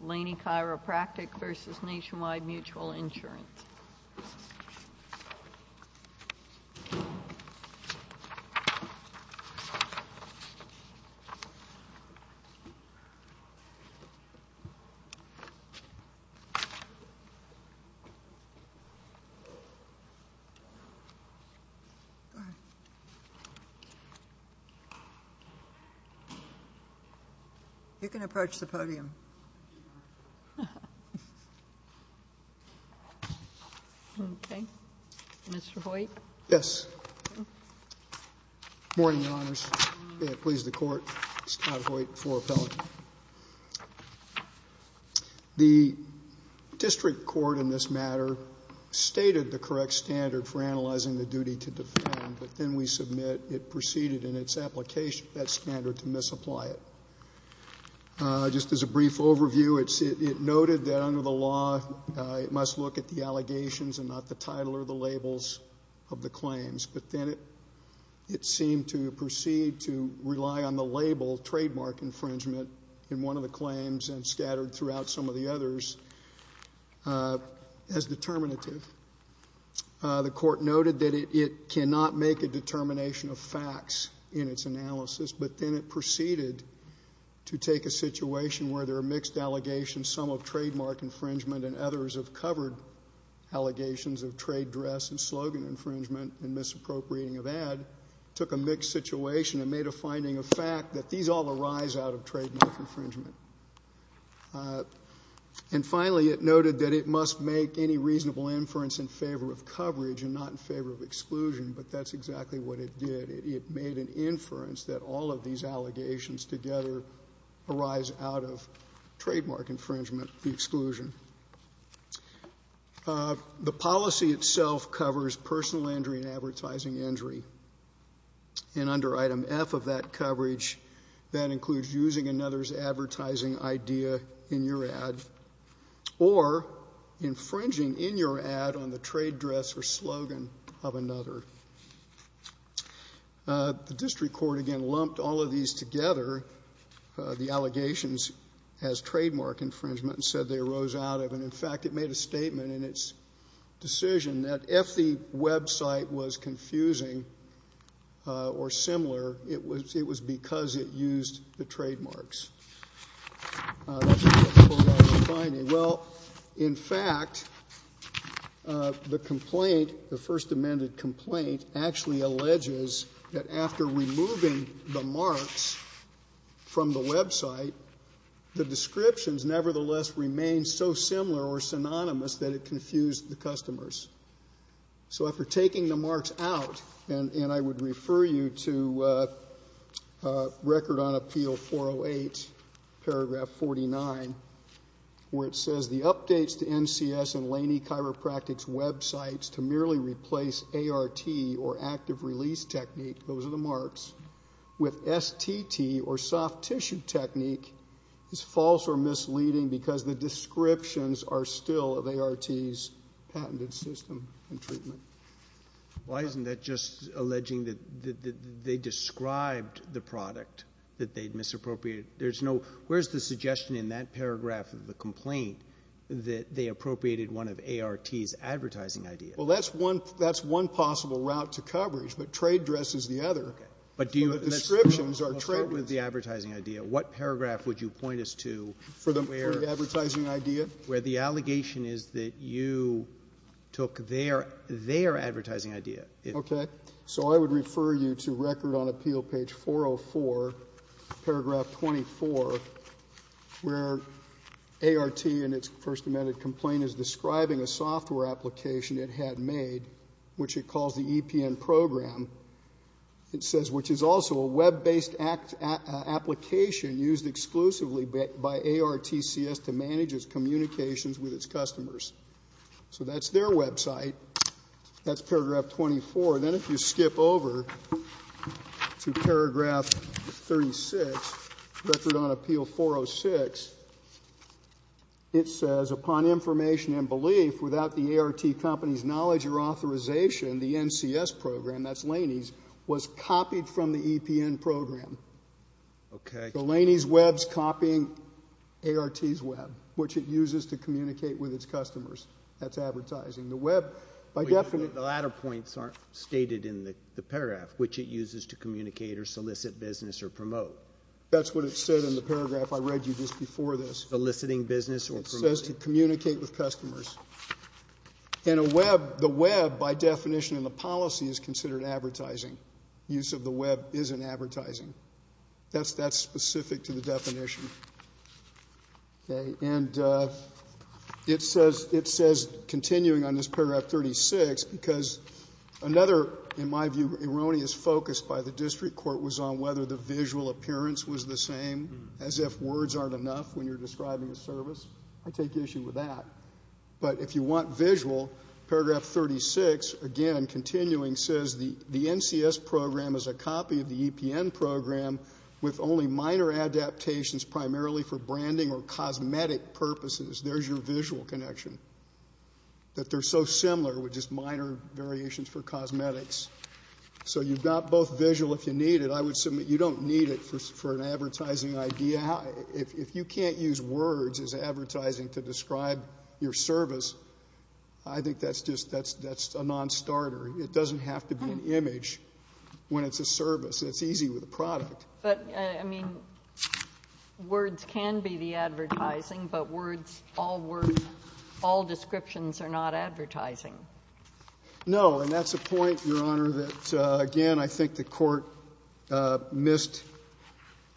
Laney Chiropractic v. Nationwide Mutual Insurance. You may be seated. The District Court in this matter stated the correct standard for analyzing the duty to defend, but then we submit it preceded in its application that standard to misapply it. Just as a brief overview, it noted that under the law it must look at the allegations and not the title or the labels of the claims, but then it seemed to proceed to rely on the label trademark infringement in one of the claims and scattered throughout some of the others as determinative. The court noted that it cannot make a determination of facts in its analysis, but then it proceeded to take a situation where there are mixed allegations, some of trademark infringement and others of covered allegations of trade dress and slogan infringement and misappropriating of ad, took a mixed situation and made a finding of fact that these all arise out of trademark infringement. And finally, it noted that it must make any reasonable inference in favor of coverage and not in favor of exclusion, but that's exactly what it did. It made an inference that all of these allegations together arise out of trademark infringement and exclusion. The policy itself covers personal injury and advertising injury, and under item F of that coverage that includes using another's advertising idea in your ad or infringing in your ad on The district court again lumped all of these together, the allegations as trademark infringement, and said they arose out of. And, in fact, it made a statement in its decision that if the website was confusing or similar, it was because it used the trademarks. That's what pulled out the finding. Well, in fact, the complaint, the first amended complaint, actually alleges that after removing the marks from the website, the descriptions nevertheless remained so similar or synonymous that it confused the customers. So after taking the marks out, and I would refer you to Record on Appeal 408, paragraph 49, where it says the updates to NCS and Laney Chiropractic's websites to merely replace ART or active release technique, those are the marks, with STT or soft tissue technique is false or misleading because the descriptions are still of ART's patented system and treatment. Why isn't that just alleging that they described the product that they'd misappropriated? There's no — where's the suggestion in that paragraph of the complaint that they appropriated one of ART's advertising ideas? Well, that's one possible route to coverage, but trade dress is the other. Okay. But do you — The descriptions are trademarked. Let's start with the advertising idea. What paragraph would you point us to where — For the advertising idea? Where the allegation is that you took their advertising idea. Okay. So I would refer you to Record on Appeal page 404, paragraph 24, where ART in its first amended complaint is describing a software application it had made, which it calls the EPN program. It says, which is also a web-based application used exclusively by ARTCS to manage its communications with its customers. So that's their website. That's paragraph 24. Then if you skip over to paragraph 36, Record on Appeal 406, it says, upon information and belief, without the ART company's knowledge or authorization, the NCS program — that's Laney's — was copied from the EPN program. Okay. So Laney's Web's copying ART's Web, which it uses to communicate with its customers. That's advertising. The web, by definition — The latter points aren't stated in the paragraph, which it uses to communicate or solicit business or promote. That's what it said in the paragraph I read you just before this. Soliciting business or promoting. It says to communicate with customers. And a web — the web, by definition in the policy, is considered advertising. Use of the web isn't advertising. That's specific to the definition. Okay. And it says — it says, continuing on this paragraph 36, because another, in my view, erroneous focus by the district court was on whether the visual appearance was the same, as if words aren't enough when you're describing a service. I take issue with that. But if you want visual, paragraph 36, again, continuing, says the NCS program is a copy of the EPN program, with only minor adaptations primarily for branding or cosmetic purposes. There's your visual connection. That they're so similar with just minor variations for cosmetics. So you've got both visual if you need it. I would submit you don't need it for an advertising idea. If you can't use words as advertising to describe your service, I think that's just — that's a non-starter. It doesn't have to be an image when it's a service. It's easy with a product. But, I mean, words can be the advertising, but words, all words, all descriptions are not advertising. No. And that's a point, Your Honor, that, again, I think the court missed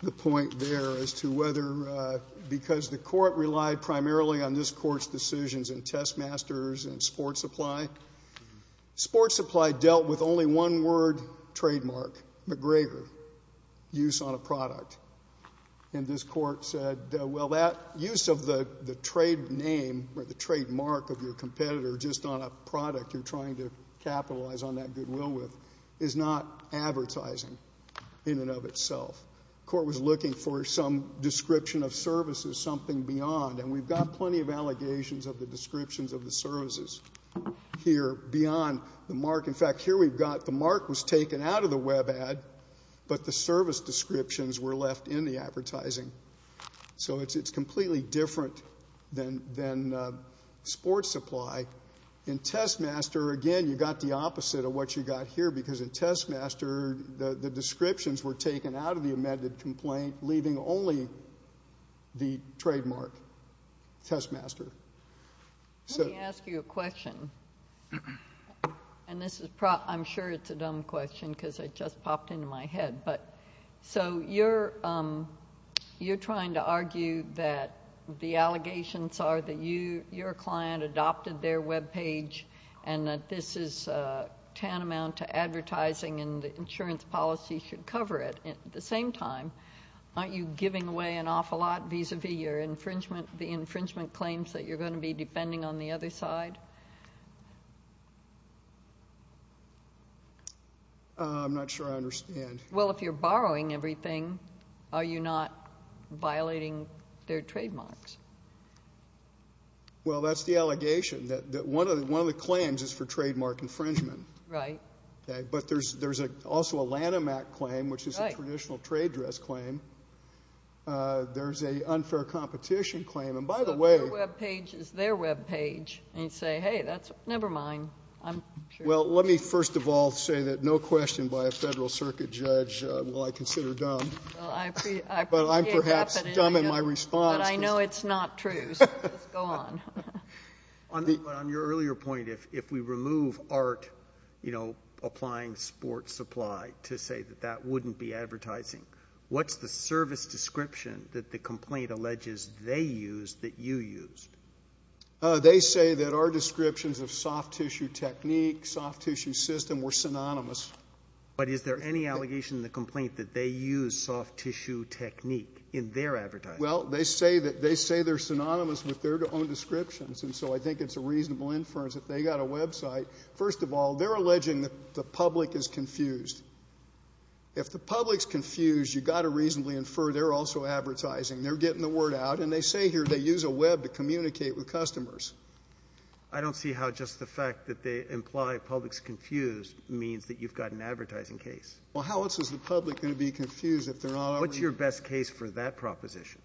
the point there as to whether — because the court relied primarily on this court's decisions in testmasters and sports supply. Sports supply dealt with only one word trademark, McGregor, use on a product. And this court said, well, that use of the trade name or the trademark of your competitor just on a product you're trying to capitalize on that goodwill with is not advertising in and of itself. The court was looking for some description of services, something beyond, and we've got services here beyond the mark. In fact, here we've got the mark was taken out of the web ad, but the service descriptions were left in the advertising. So it's completely different than sports supply. In testmaster, again, you've got the opposite of what you've got here, because in testmaster the descriptions were taken out of the amended complaint, leaving only the trademark, testmaster. Let me ask you a question, and this is — I'm sure it's a dumb question because it just popped into my head, but — so you're trying to argue that the allegations are that your client adopted their web page and that this is tantamount to advertising and the insurance policy should cover it. At the same time, aren't you giving away an awful lot vis-a-vis your infringement — the fact that you're going to be depending on the other side? I'm not sure I understand. Well, if you're borrowing everything, are you not violating their trademarks? Well, that's the allegation, that one of the claims is for trademark infringement. Right. Okay, but there's also a Lanham Act claim, which is a traditional trade dress claim. There's an unfair competition claim, and by the way — Well, your web page is their web page, and you say, hey, that's — never mind, I'm sure — Well, let me first of all say that no question by a Federal Circuit judge will I consider dumb. Well, I appreciate — But I'm perhaps dumb in my response. But I know it's not true, so just go on. On your earlier point, if we remove art, you know, applying sports supply to say that that wouldn't be advertising, what's the service description that the complaint alleges they used that you used? They say that our descriptions of soft tissue technique, soft tissue system, were synonymous. But is there any allegation in the complaint that they used soft tissue technique in their advertising? Well, they say they're synonymous with their own descriptions, and so I think it's a reasonable inference if they got a website. First of all, they're alleging that the public is confused. If the public's confused, you've got to reasonably infer they're also advertising. They're getting the word out, and they say here they use a web to communicate with customers. I don't see how just the fact that they imply public's confused means that you've got an advertising case. Well, how else is the public going to be confused if they're not already — What's your best case for that proposition?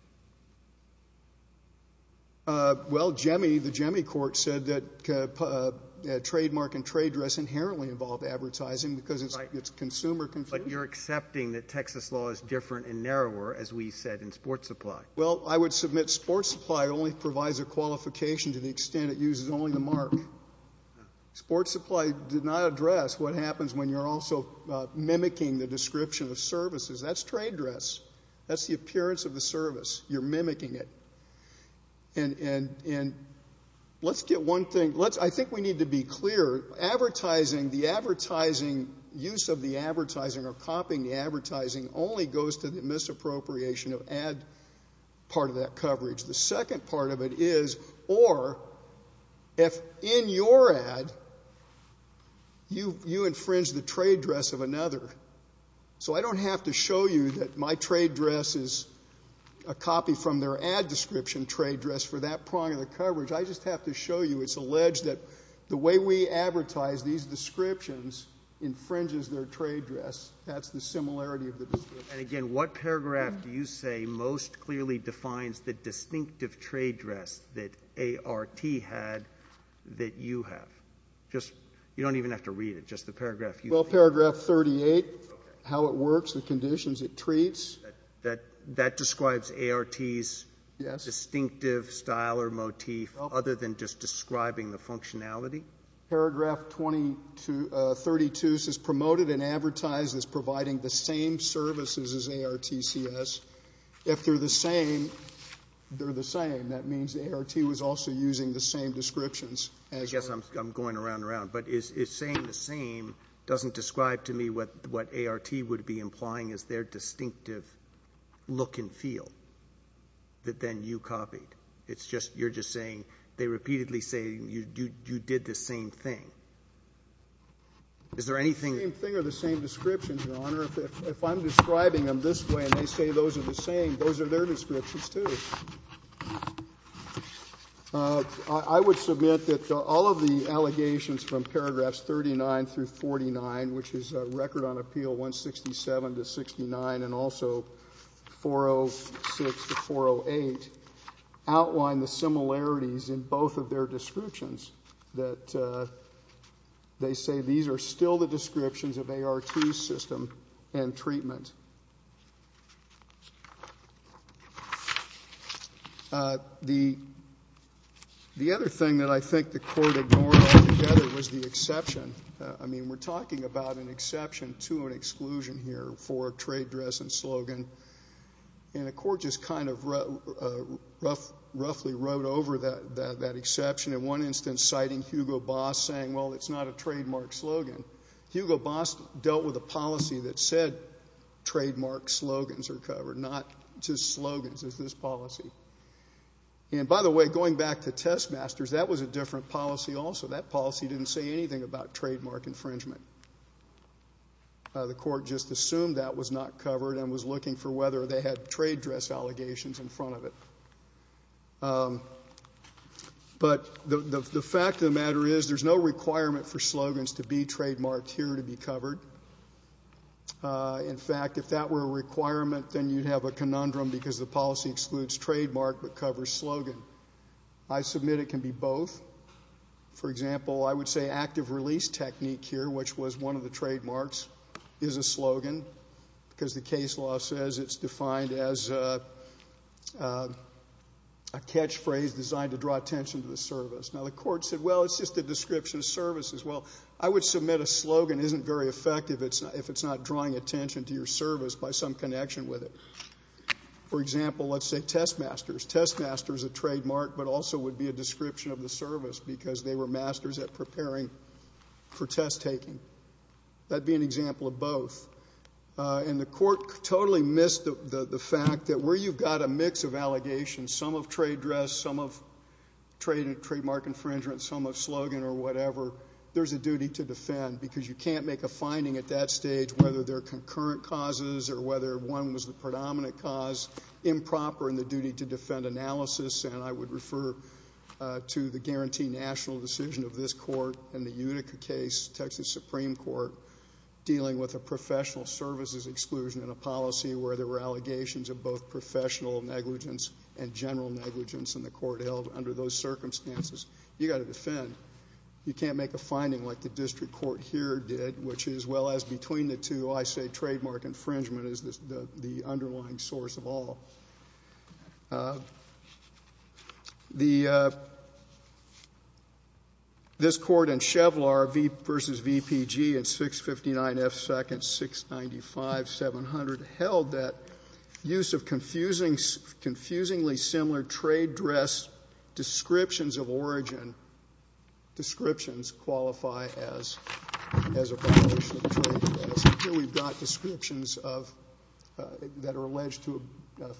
Well, JEMI, the JEMI court, said that trademark and trade dress inherently involve advertising because it's consumer confusion. But you're accepting that Texas law is different and narrower, as we said, in sports supply. Well, I would submit sports supply only provides a qualification to the extent it uses only the mark. Sports supply did not address what happens when you're also mimicking the description of services. That's trade dress. That's the appearance of the service. You're mimicking it. And let's get one thing — I think we need to be clear. Advertising, the advertising — use of the advertising or copying the advertising only goes to the misappropriation of ad part of that coverage. The second part of it is, or if in your ad you infringe the trade dress of another. So I don't have to show you that my trade dress is a copy from their ad description trade dress for that prong of the coverage. I just have to show you it's alleged that the way we advertise these descriptions infringes their trade dress. That's the similarity of the description. And again, what paragraph do you say most clearly defines the distinctive trade dress that ART had that you have? Just — you don't even have to read it. Just the paragraph. Well, paragraph 38, how it works, the conditions it treats. That describes ART's distinctive style or motif, other than just describing the functionality? Paragraph 32 says promoted and advertised as providing the same services as ARTCS. If they're the same, they're the same. That means ART was also using the same descriptions as — I guess I'm going around and around. But is saying the same doesn't describe to me what ART would be implying as their distinctive look and feel that then you copied. It's just — you're just saying — they repeatedly say you did the same thing. Is there anything — The same thing or the same description, Your Honor. If I'm describing them this way and they say those are the same, those are their descriptions, too. I would submit that all of the allegations from paragraphs 39 through 49, which is Record on Appeal 167 to 69 and also 406 to 408, outline the similarities in both of their descriptions that they say these are still the descriptions of ART's system and treatment. The other thing that I think the Court ignored altogether was the exception. I mean, we're talking about an exception to an exclusion here for a trade dress and slogan. And the Court just kind of roughly wrote over that exception. In one instance, citing Hugo Boss saying, well, it's not a trademark slogan. Hugo Boss dealt with a policy that said trademark slogans are covered, not just slogans. It's this policy. And by the way, going back to Testmasters, that was a different policy also. That policy didn't say anything about trademark infringement. The Court just assumed that was not covered and was looking for whether they had trade dress allegations in front of it. But the fact of the matter is there's no requirement for slogans to be trademarked here to be covered. In fact, if that were a requirement, then you'd have a conundrum because the policy excludes trademark but covers slogan. I submit it can be both. For example, I would say active release technique here, which was one of the trademarks, is a slogan because the case law says it's defined as a catchphrase designed to draw attention to the service. Now, the Court said, well, it's just a description of service as well. I would submit a slogan isn't very effective if it's not drawing attention to your service by some connection with it. For example, let's say Testmasters. Testmasters is a trademark but also would be a description of the service because they were masters at preparing for test taking. That'd be an example of both. And the Court totally missed the fact that where you've got a mix of allegations, some of trade dress, some of trademark infringement, some of slogan or whatever, there's a duty to defend because you can't make a finding at that stage whether they're concurrent causes or whether one was the predominant cause improper in the duty to defend analysis. And I would refer to the guarantee national decision of this Court in the Unica case, Texas Supreme Court, dealing with a professional services exclusion in a policy where there were allegations of both professional negligence and general negligence in the court held under those circumstances. You got to defend. You can't make a finding like the district court here did, which is well as between the two, I say trademark infringement is the underlying source of all. This Court in Chevlar v. VPG in 659F seconds 695-700 held that use of confusingly similar trade dress descriptions of origin, descriptions qualify as a violation of trade dress. Here we've got descriptions of that are alleged to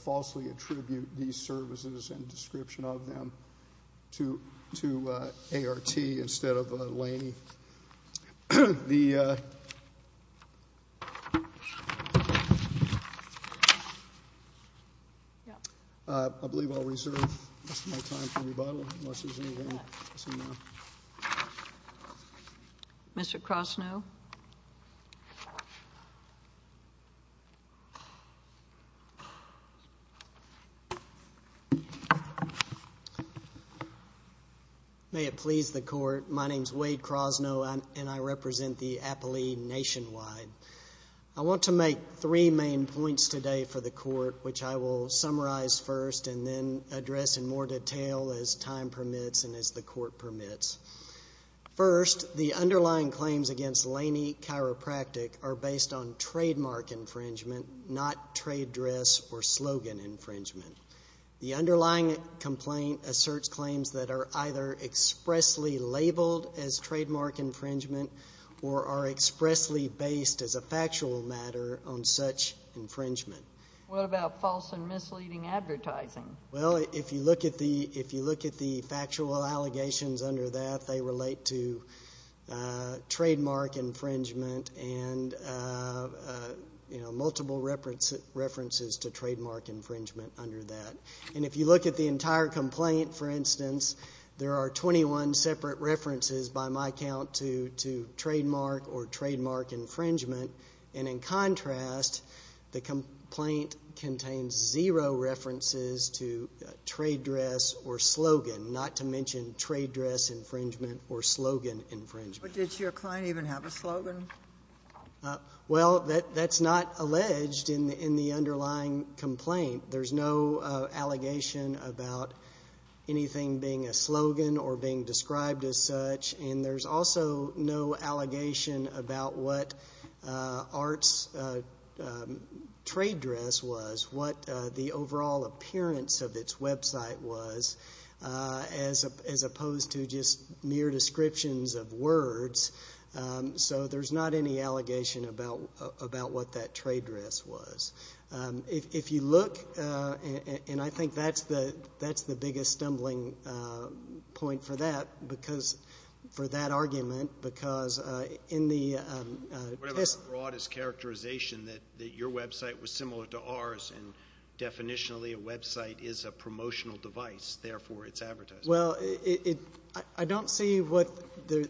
falsely attribute these services and description of them to ART instead of Laney. The I believe I'll reserve my time for rebuttal unless there's anything. Mr. Kroszno. May it please the Court. My name is Wade Kroszno and I represent the appellee nationwide. I want to make three main points today for the Court, which I will summarize first and then address in more detail as time permits and as the Court permits. First, the underlying claims against Laney Chiropractic are based on trademark infringement, not trade dress or slogan infringement. The underlying complaint asserts claims that are either expressly labeled as trademark infringement or are expressly based as a factual matter on such infringement. What about false and misleading advertising? If you look at the factual allegations under that, they relate to trademark infringement and multiple references to trademark infringement under that. If you look at the entire complaint, for instance, there are 21 separate references by my count to trademark or trademark infringement. And in contrast, the complaint contains zero references to trade dress or slogan, not to mention trade dress infringement or slogan infringement. But did your client even have a slogan? Well, that's not alleged in the underlying complaint. There's no allegation about anything being a slogan or being described as such, and there's also no allegation about what Art's trade dress was, what the overall appearance of its website was, as opposed to just mere descriptions of words. So there's not any allegation about what that trade dress was. If you look, and I think that's the biggest stumbling point for that, because for that argument, because in the... What about the broadest characterization that your website was similar to ours, and definitionally a website is a promotional device, therefore it's advertising? Well, I don't see what the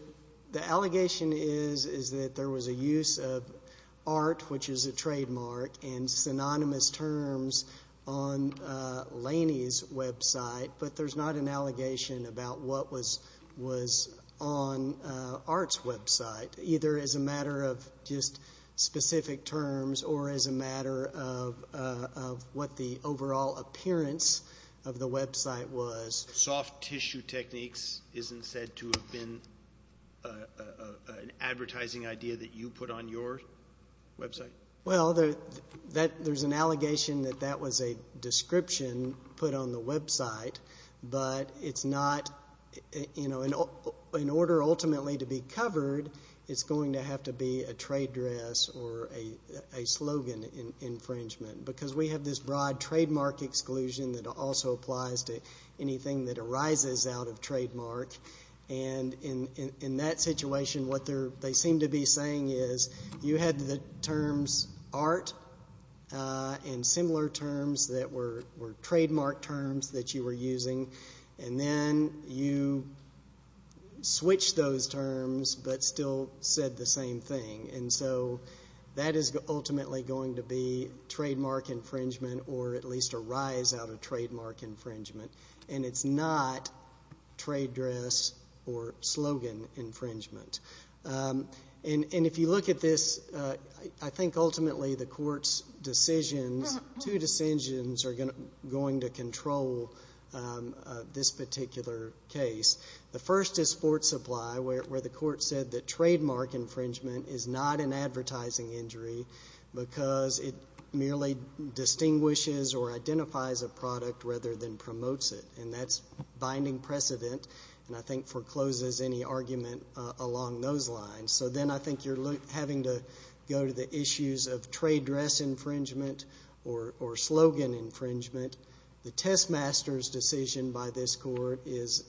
allegation is, is that there was a use of Art, which is a trademark, and synonymous terms on Laney's website, but there's not an allegation about what was on Art's website, either as a matter of just specific terms or as a matter of what the overall appearance of the website was. Soft tissue techniques isn't said to have been an advertising idea that you put on your website? Well, there's an allegation that that was a description put on the website, but it's not, you know, in order ultimately to be covered, it's going to have to be a trade dress or a slogan infringement, because we have this broad trademark exclusion that also applies to anything that arises out of trademark, and in that situation, what they seem to be saying is you had the terms Art and similar terms that were trademark terms that you were using, and then you switched those terms but still said the same thing, and so that is ultimately going to be trademark infringement or at least a rise out of trademark infringement, and it's not trade dress or slogan infringement. And if you look at this, I think ultimately the court's decisions, two decisions are going to control this particular case. The first is sports supply, where the court said that trademark infringement is not an advertising injury because it merely distinguishes or identifies a product rather than promotes it, and that's binding precedent, and I think forecloses any argument along those lines. So then I think you're having to go to the issues of trade dress infringement or slogan infringement. The test master's decision by this court is,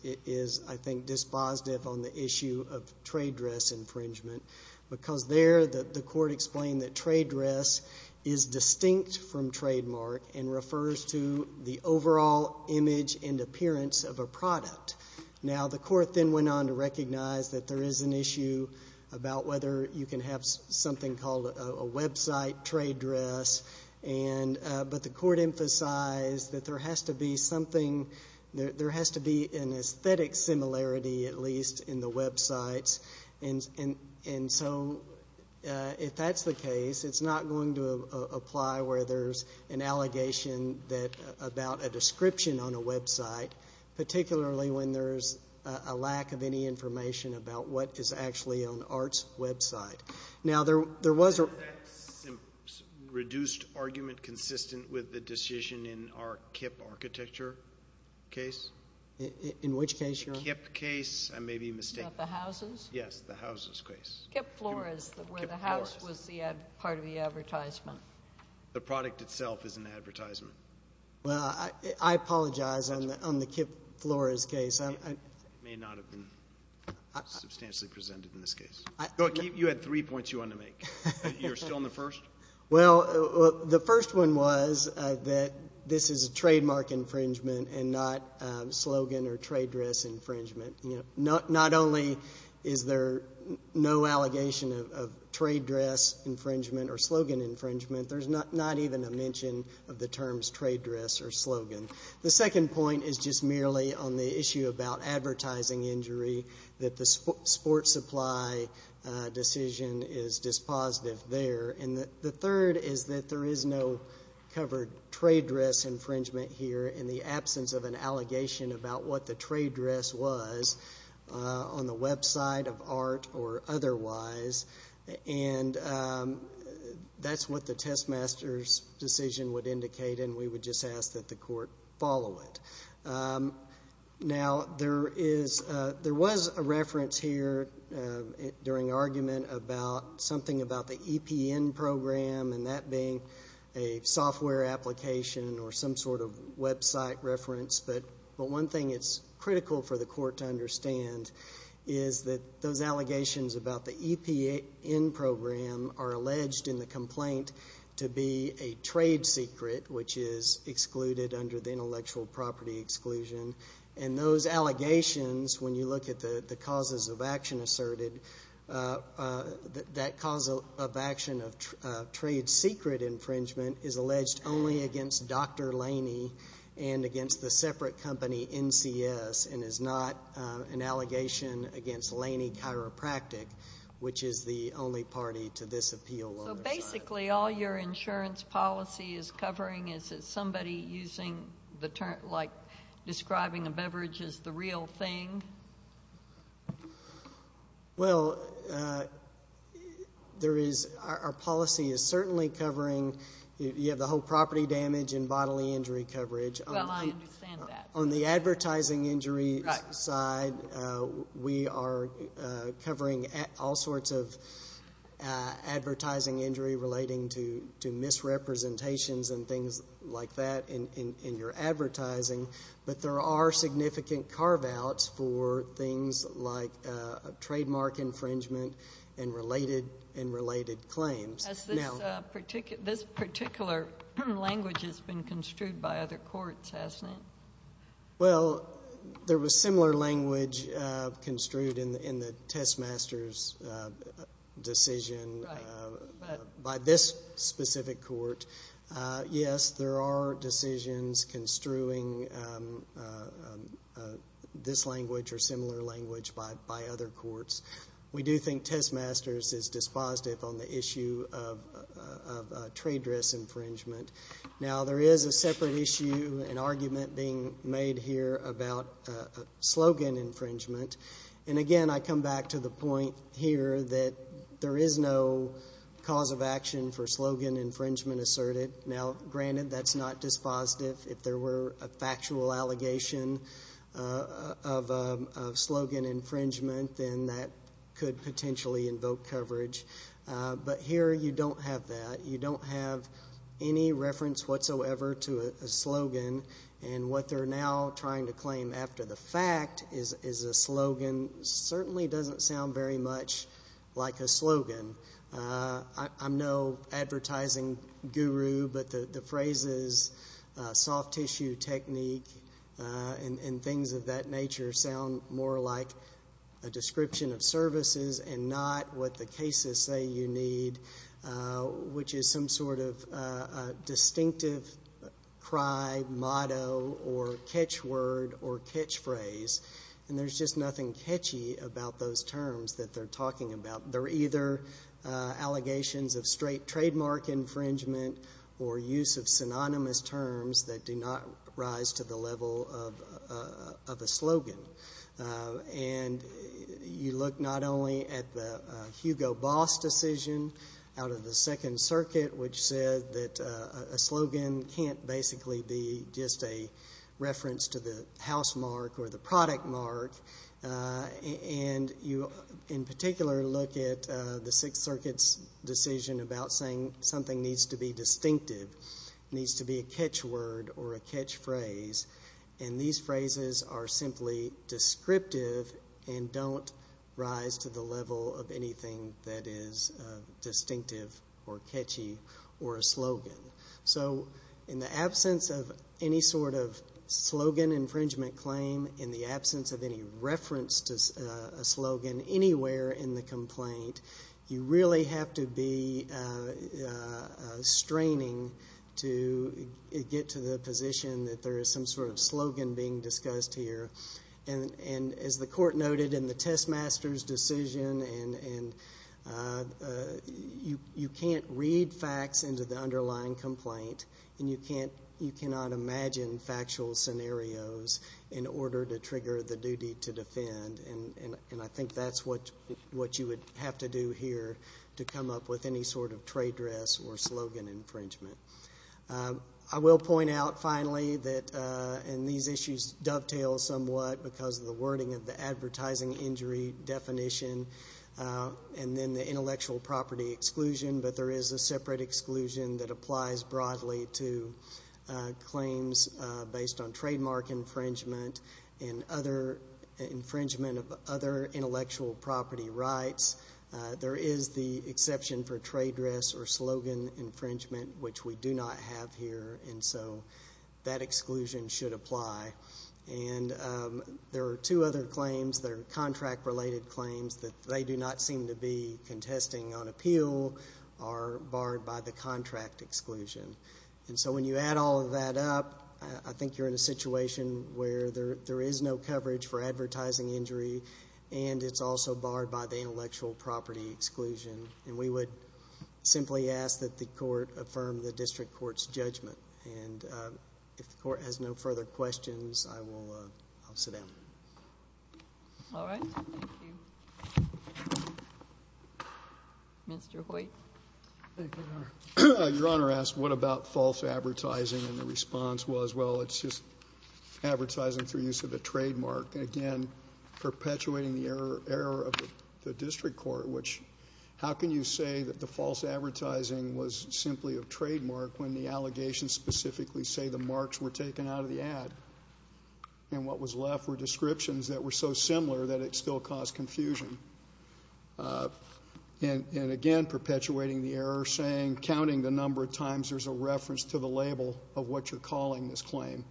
I think, dispositive on the issue of trade dress infringement, because there the court explained that trade dress is distinct from the image and appearance of a product. Now, the court then went on to recognize that there is an issue about whether you can have something called a website trade dress, and but the court emphasized that there has to be something, there has to be an aesthetic similarity at least in the websites, and so if that's the case, it's not going to apply where there's an allegation that about a description on a website, particularly when there's a lack of any information about what is actually on art's website. Now there was a reduced argument consistent with the decision in our KIPP architecture case. In which case, Your Honor? The KIPP case, I may be mistaken. About the houses? Yes, the houses case. KIPP Flores, where the house was part of the advertisement. The product itself is an advertisement. Well, I apologize on the KIPP Flores case. It may not have been substantially presented in this case. You had three points you wanted to make. You're still on the first? Well, the first one was that this is a trademark infringement and not a slogan or trade dress infringement. Not only is there no allegation of trade dress infringement or slogan infringement, there's not even a mention of the terms trade dress or slogan. The second point is just merely on the issue about advertising injury. That the sports supply decision is dispositive there. The third is that there is no covered trade dress infringement here in the absence of an allegation about what the trade dress was on the website of art or otherwise. And that's what the test master's decision would indicate and we would just ask that the court follow it. Now there was a reference here during argument about something about the EPN program and that being a software application or some sort of website reference, but one thing it's clear is that the EPN program are alleged in the complaint to be a trade secret which is excluded under the intellectual property exclusion and those allegations, when you look at the causes of action asserted, that cause of action of trade secret infringement is alleged only against Dr. Laney and against the separate company NCS and is not an allegation against Laney Chiropractic which is the only party to this appeal. So basically all your insurance policy is covering is that somebody using the term like describing a beverage as the real thing? Well there is, our policy is certainly covering, you have the whole property damage and bodily injury coverage. Well I understand that. On the advertising injury side, we are covering all sorts of advertising injury relating to misrepresentations and things like that in your advertising, but there are significant carve outs for things like trademark infringement and related claims. Has this particular language been construed by other courts? Well there was similar language construed in the test masters decision by this specific court. Yes, there are decisions construing this language or similar language by other courts. We do think test masters is dispositive on the issue of trade dress infringement. Now there is a separate issue, an argument being made here about slogan infringement and again I come back to the point here that there is no cause of action for slogan infringement asserted. Now granted that's not dispositive. If there were a factual allegation of slogan infringement, then that could potentially invoke coverage, but here you don't have that. You don't have any reference whatsoever to a slogan and what they are now trying to claim after the fact is a slogan certainly doesn't sound very much like a slogan. I'm no advertising guru, but the phrases soft tissue technique and things of that nature sound more like a description of services and not what the cases say you need, which is some sort of distinctive cry, motto, or catch word or catch phrase and there's just nothing catchy about those terms that they're talking about. They're either allegations of straight trademark infringement or use of synonymous terms that do not rise to the level of a slogan and you look not only at the Hugo Boss decision out of the second circuit which said that a slogan can't basically be just a reference to the house mark or the product mark and you in particular look at the sixth circuit's decision about saying something needs to be distinctive, needs to be a catch word or a catch phrase and these phrases are simply descriptive and don't rise to the level of anything that is distinctive or catchy or a slogan. So in the absence of any sort of slogan infringement claim, in the absence of any reference to a slogan anywhere in the complaint, you really have to be straining to get to the position that there is some sort of slogan being discussed here and as the court noted in the test master's decision and you can't read facts into the underlying complaint and you cannot imagine factual scenarios in order to trigger the duty to defend and I think that's what you would have to do here to come up with any sort of trade dress or slogan infringement. I will point out finally that in these issues dovetail somewhat because of the wording of the advertising injury definition and then the intellectual property exclusion but there is a separate exclusion that applies broadly to claims based on trademark infringement and infringement of other intellectual property rights. There is the exception for trade dress or slogan infringement which we do not have here and so that exclusion should apply and there are two other claims that are contract related claims that they do not seem to be contesting on appeal are barred by the contract exclusion and so when you add all of that up, I think you're in a situation where there is no coverage for advertising injury and it's also barred by the intellectual property exclusion and we would simply ask that the court affirm the district court's judgment and if the court has no further questions, I will sit down. All right. Thank you. Mr. Hoyt. Thank you, Your Honor. Your Honor asked what about false advertising and the response was well it's just advertising through use of a trademark and again perpetuating the error of the district court which how can you say that the false advertising was simply a trademark when the allegations specifically say the marks were taken out of the ad and what was left were descriptions that were so similar that it still caused confusion and again perpetuating the error saying counting the number of times there's a reference to the label of what you're calling this claim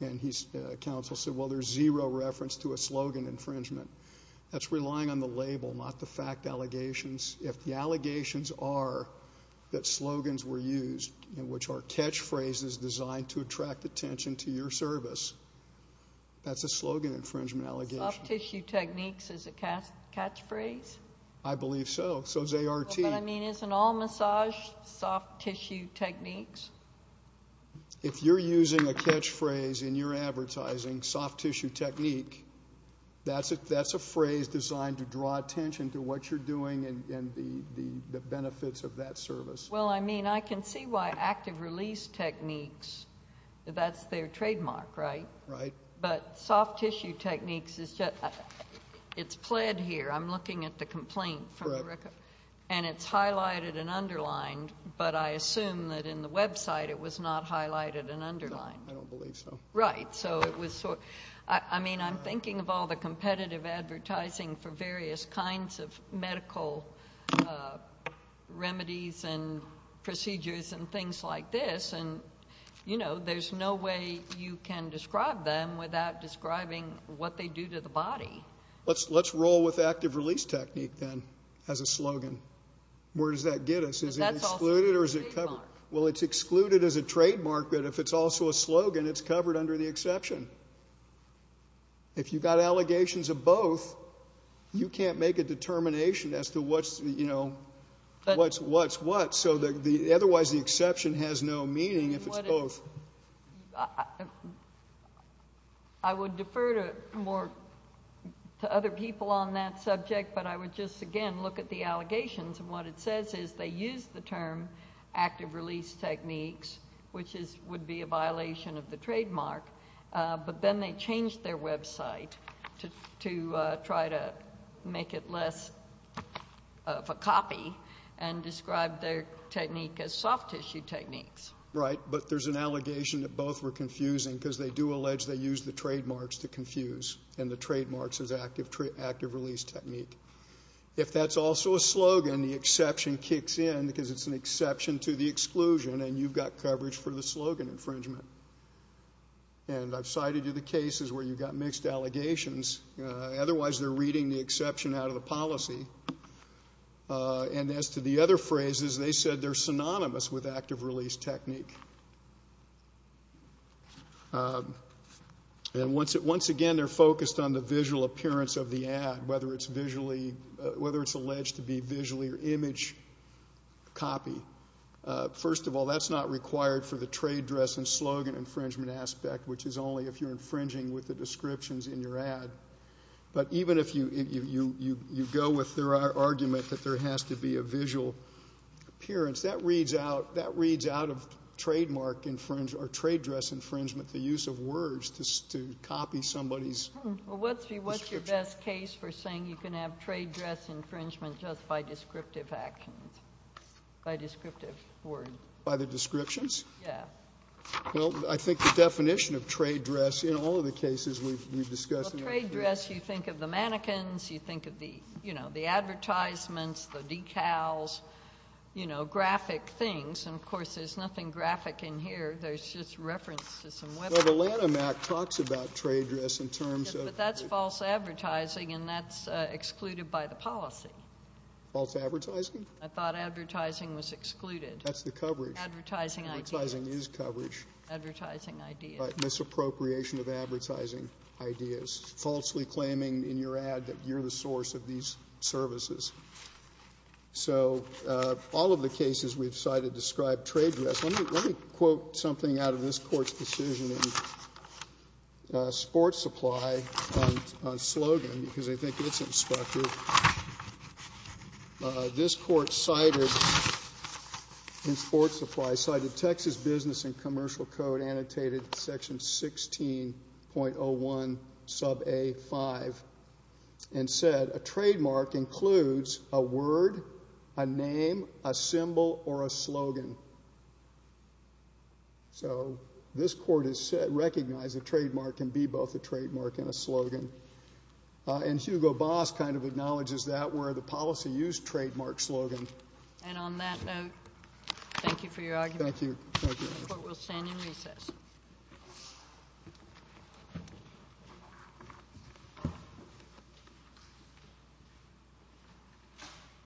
and counsel said well there's zero reference to a slogan infringement. That's relying on the label, not the fact allegations. If the allegations are that slogans were used and which are catchphrases designed to attract attention to your service, that's a slogan infringement allegation. Soft tissue techniques is a catchphrase? I believe so. So is ART. But I mean isn't all massage soft tissue techniques? If you're using a catchphrase in your advertising, soft tissue technique, that's a phrase designed to draw attention to what you're doing and the benefits of that service. Well, I mean I can see why active release techniques, that's their trademark, right? Right. But soft tissue techniques is just, it's pled here. I'm looking at the complaint. Correct. And it's highlighted and underlined but I assume that in the website it was not highlighted and underlined. I don't believe so. Right. So it was, I mean I'm thinking of all the competitive advertising for various kinds of medical remedies and procedures and things like this and, you know, there's no way you can describe them without describing what they do to the body. Let's roll with active release technique then as a slogan. Where does that get us? Is it excluded or is it covered? Well, it's excluded as a trademark but if it's also a slogan, it's covered under the exception. If you've got allegations of both, you can't make a determination as to what's, you know, what's what's what so otherwise the exception has no meaning if it's both. I would defer to more, to other people on that subject but I would just again look at the allegations and what it says is they use the term active release techniques which is, would be a violation of the trademark but then they change their website to try to make it less of a copy and describe their technique as soft tissue techniques. Right, but there's an allegation that both were confusing because they do allege they use the trademarks to confuse and the trademarks as active release technique. If that's also a slogan, the exception kicks in because it's an exception to the exclusion and you've got coverage for the slogan infringement. And I've cited you the cases where you've got mixed allegations, otherwise they're reading the exception out of the policy. And as to the other phrases, they said they're synonymous with active release technique. And once again they're focused on the visual appearance of the ad, whether it's visually, whether it's alleged to be visually or image copy. First of all, that's not required for the trade dress and slogan infringement aspect, which is only if you're infringing with the descriptions in your ad. But even if you go with their argument that there has to be a visual appearance, that reads out of trademark or trade dress infringement the use of words to copy somebody's description. Well, what's your best case for saying you can have trade dress infringement just by descriptive actions, by descriptive word? By the descriptions? Yeah. Well, I think the definition of trade dress in all of the cases we've discussed. Well, trade dress, you think of the mannequins, you think of the advertisements, the decals, you know, graphic things. And, of course, there's nothing graphic in here. There's just reference to some web. Well, the Lanham Act talks about trade dress in terms of... But that's false advertising and that's excluded by the policy. False advertising? I thought advertising was excluded. That's the coverage. Advertising ideas. Advertising is coverage. Advertising ideas. Misappropriation of advertising ideas. Falsely claiming in your ad that you're the source of these services. So all of the cases we've cited describe trade dress. Let me quote something out of this Court's decision in Sports Supply on slogan because I think it's instructive. This Court cited in Sports Supply, cited Texas Business and Commercial Code, annotated section 16.01 sub A5, and said a trademark includes a word, a name, a symbol, or a slogan. So this Court has recognized a trademark can be both a trademark and a slogan. And Hugo Boss kind of acknowledges that where the policy used trademark slogan. And on that note, thank you for your argument. Thank you. The Court will stand in recess.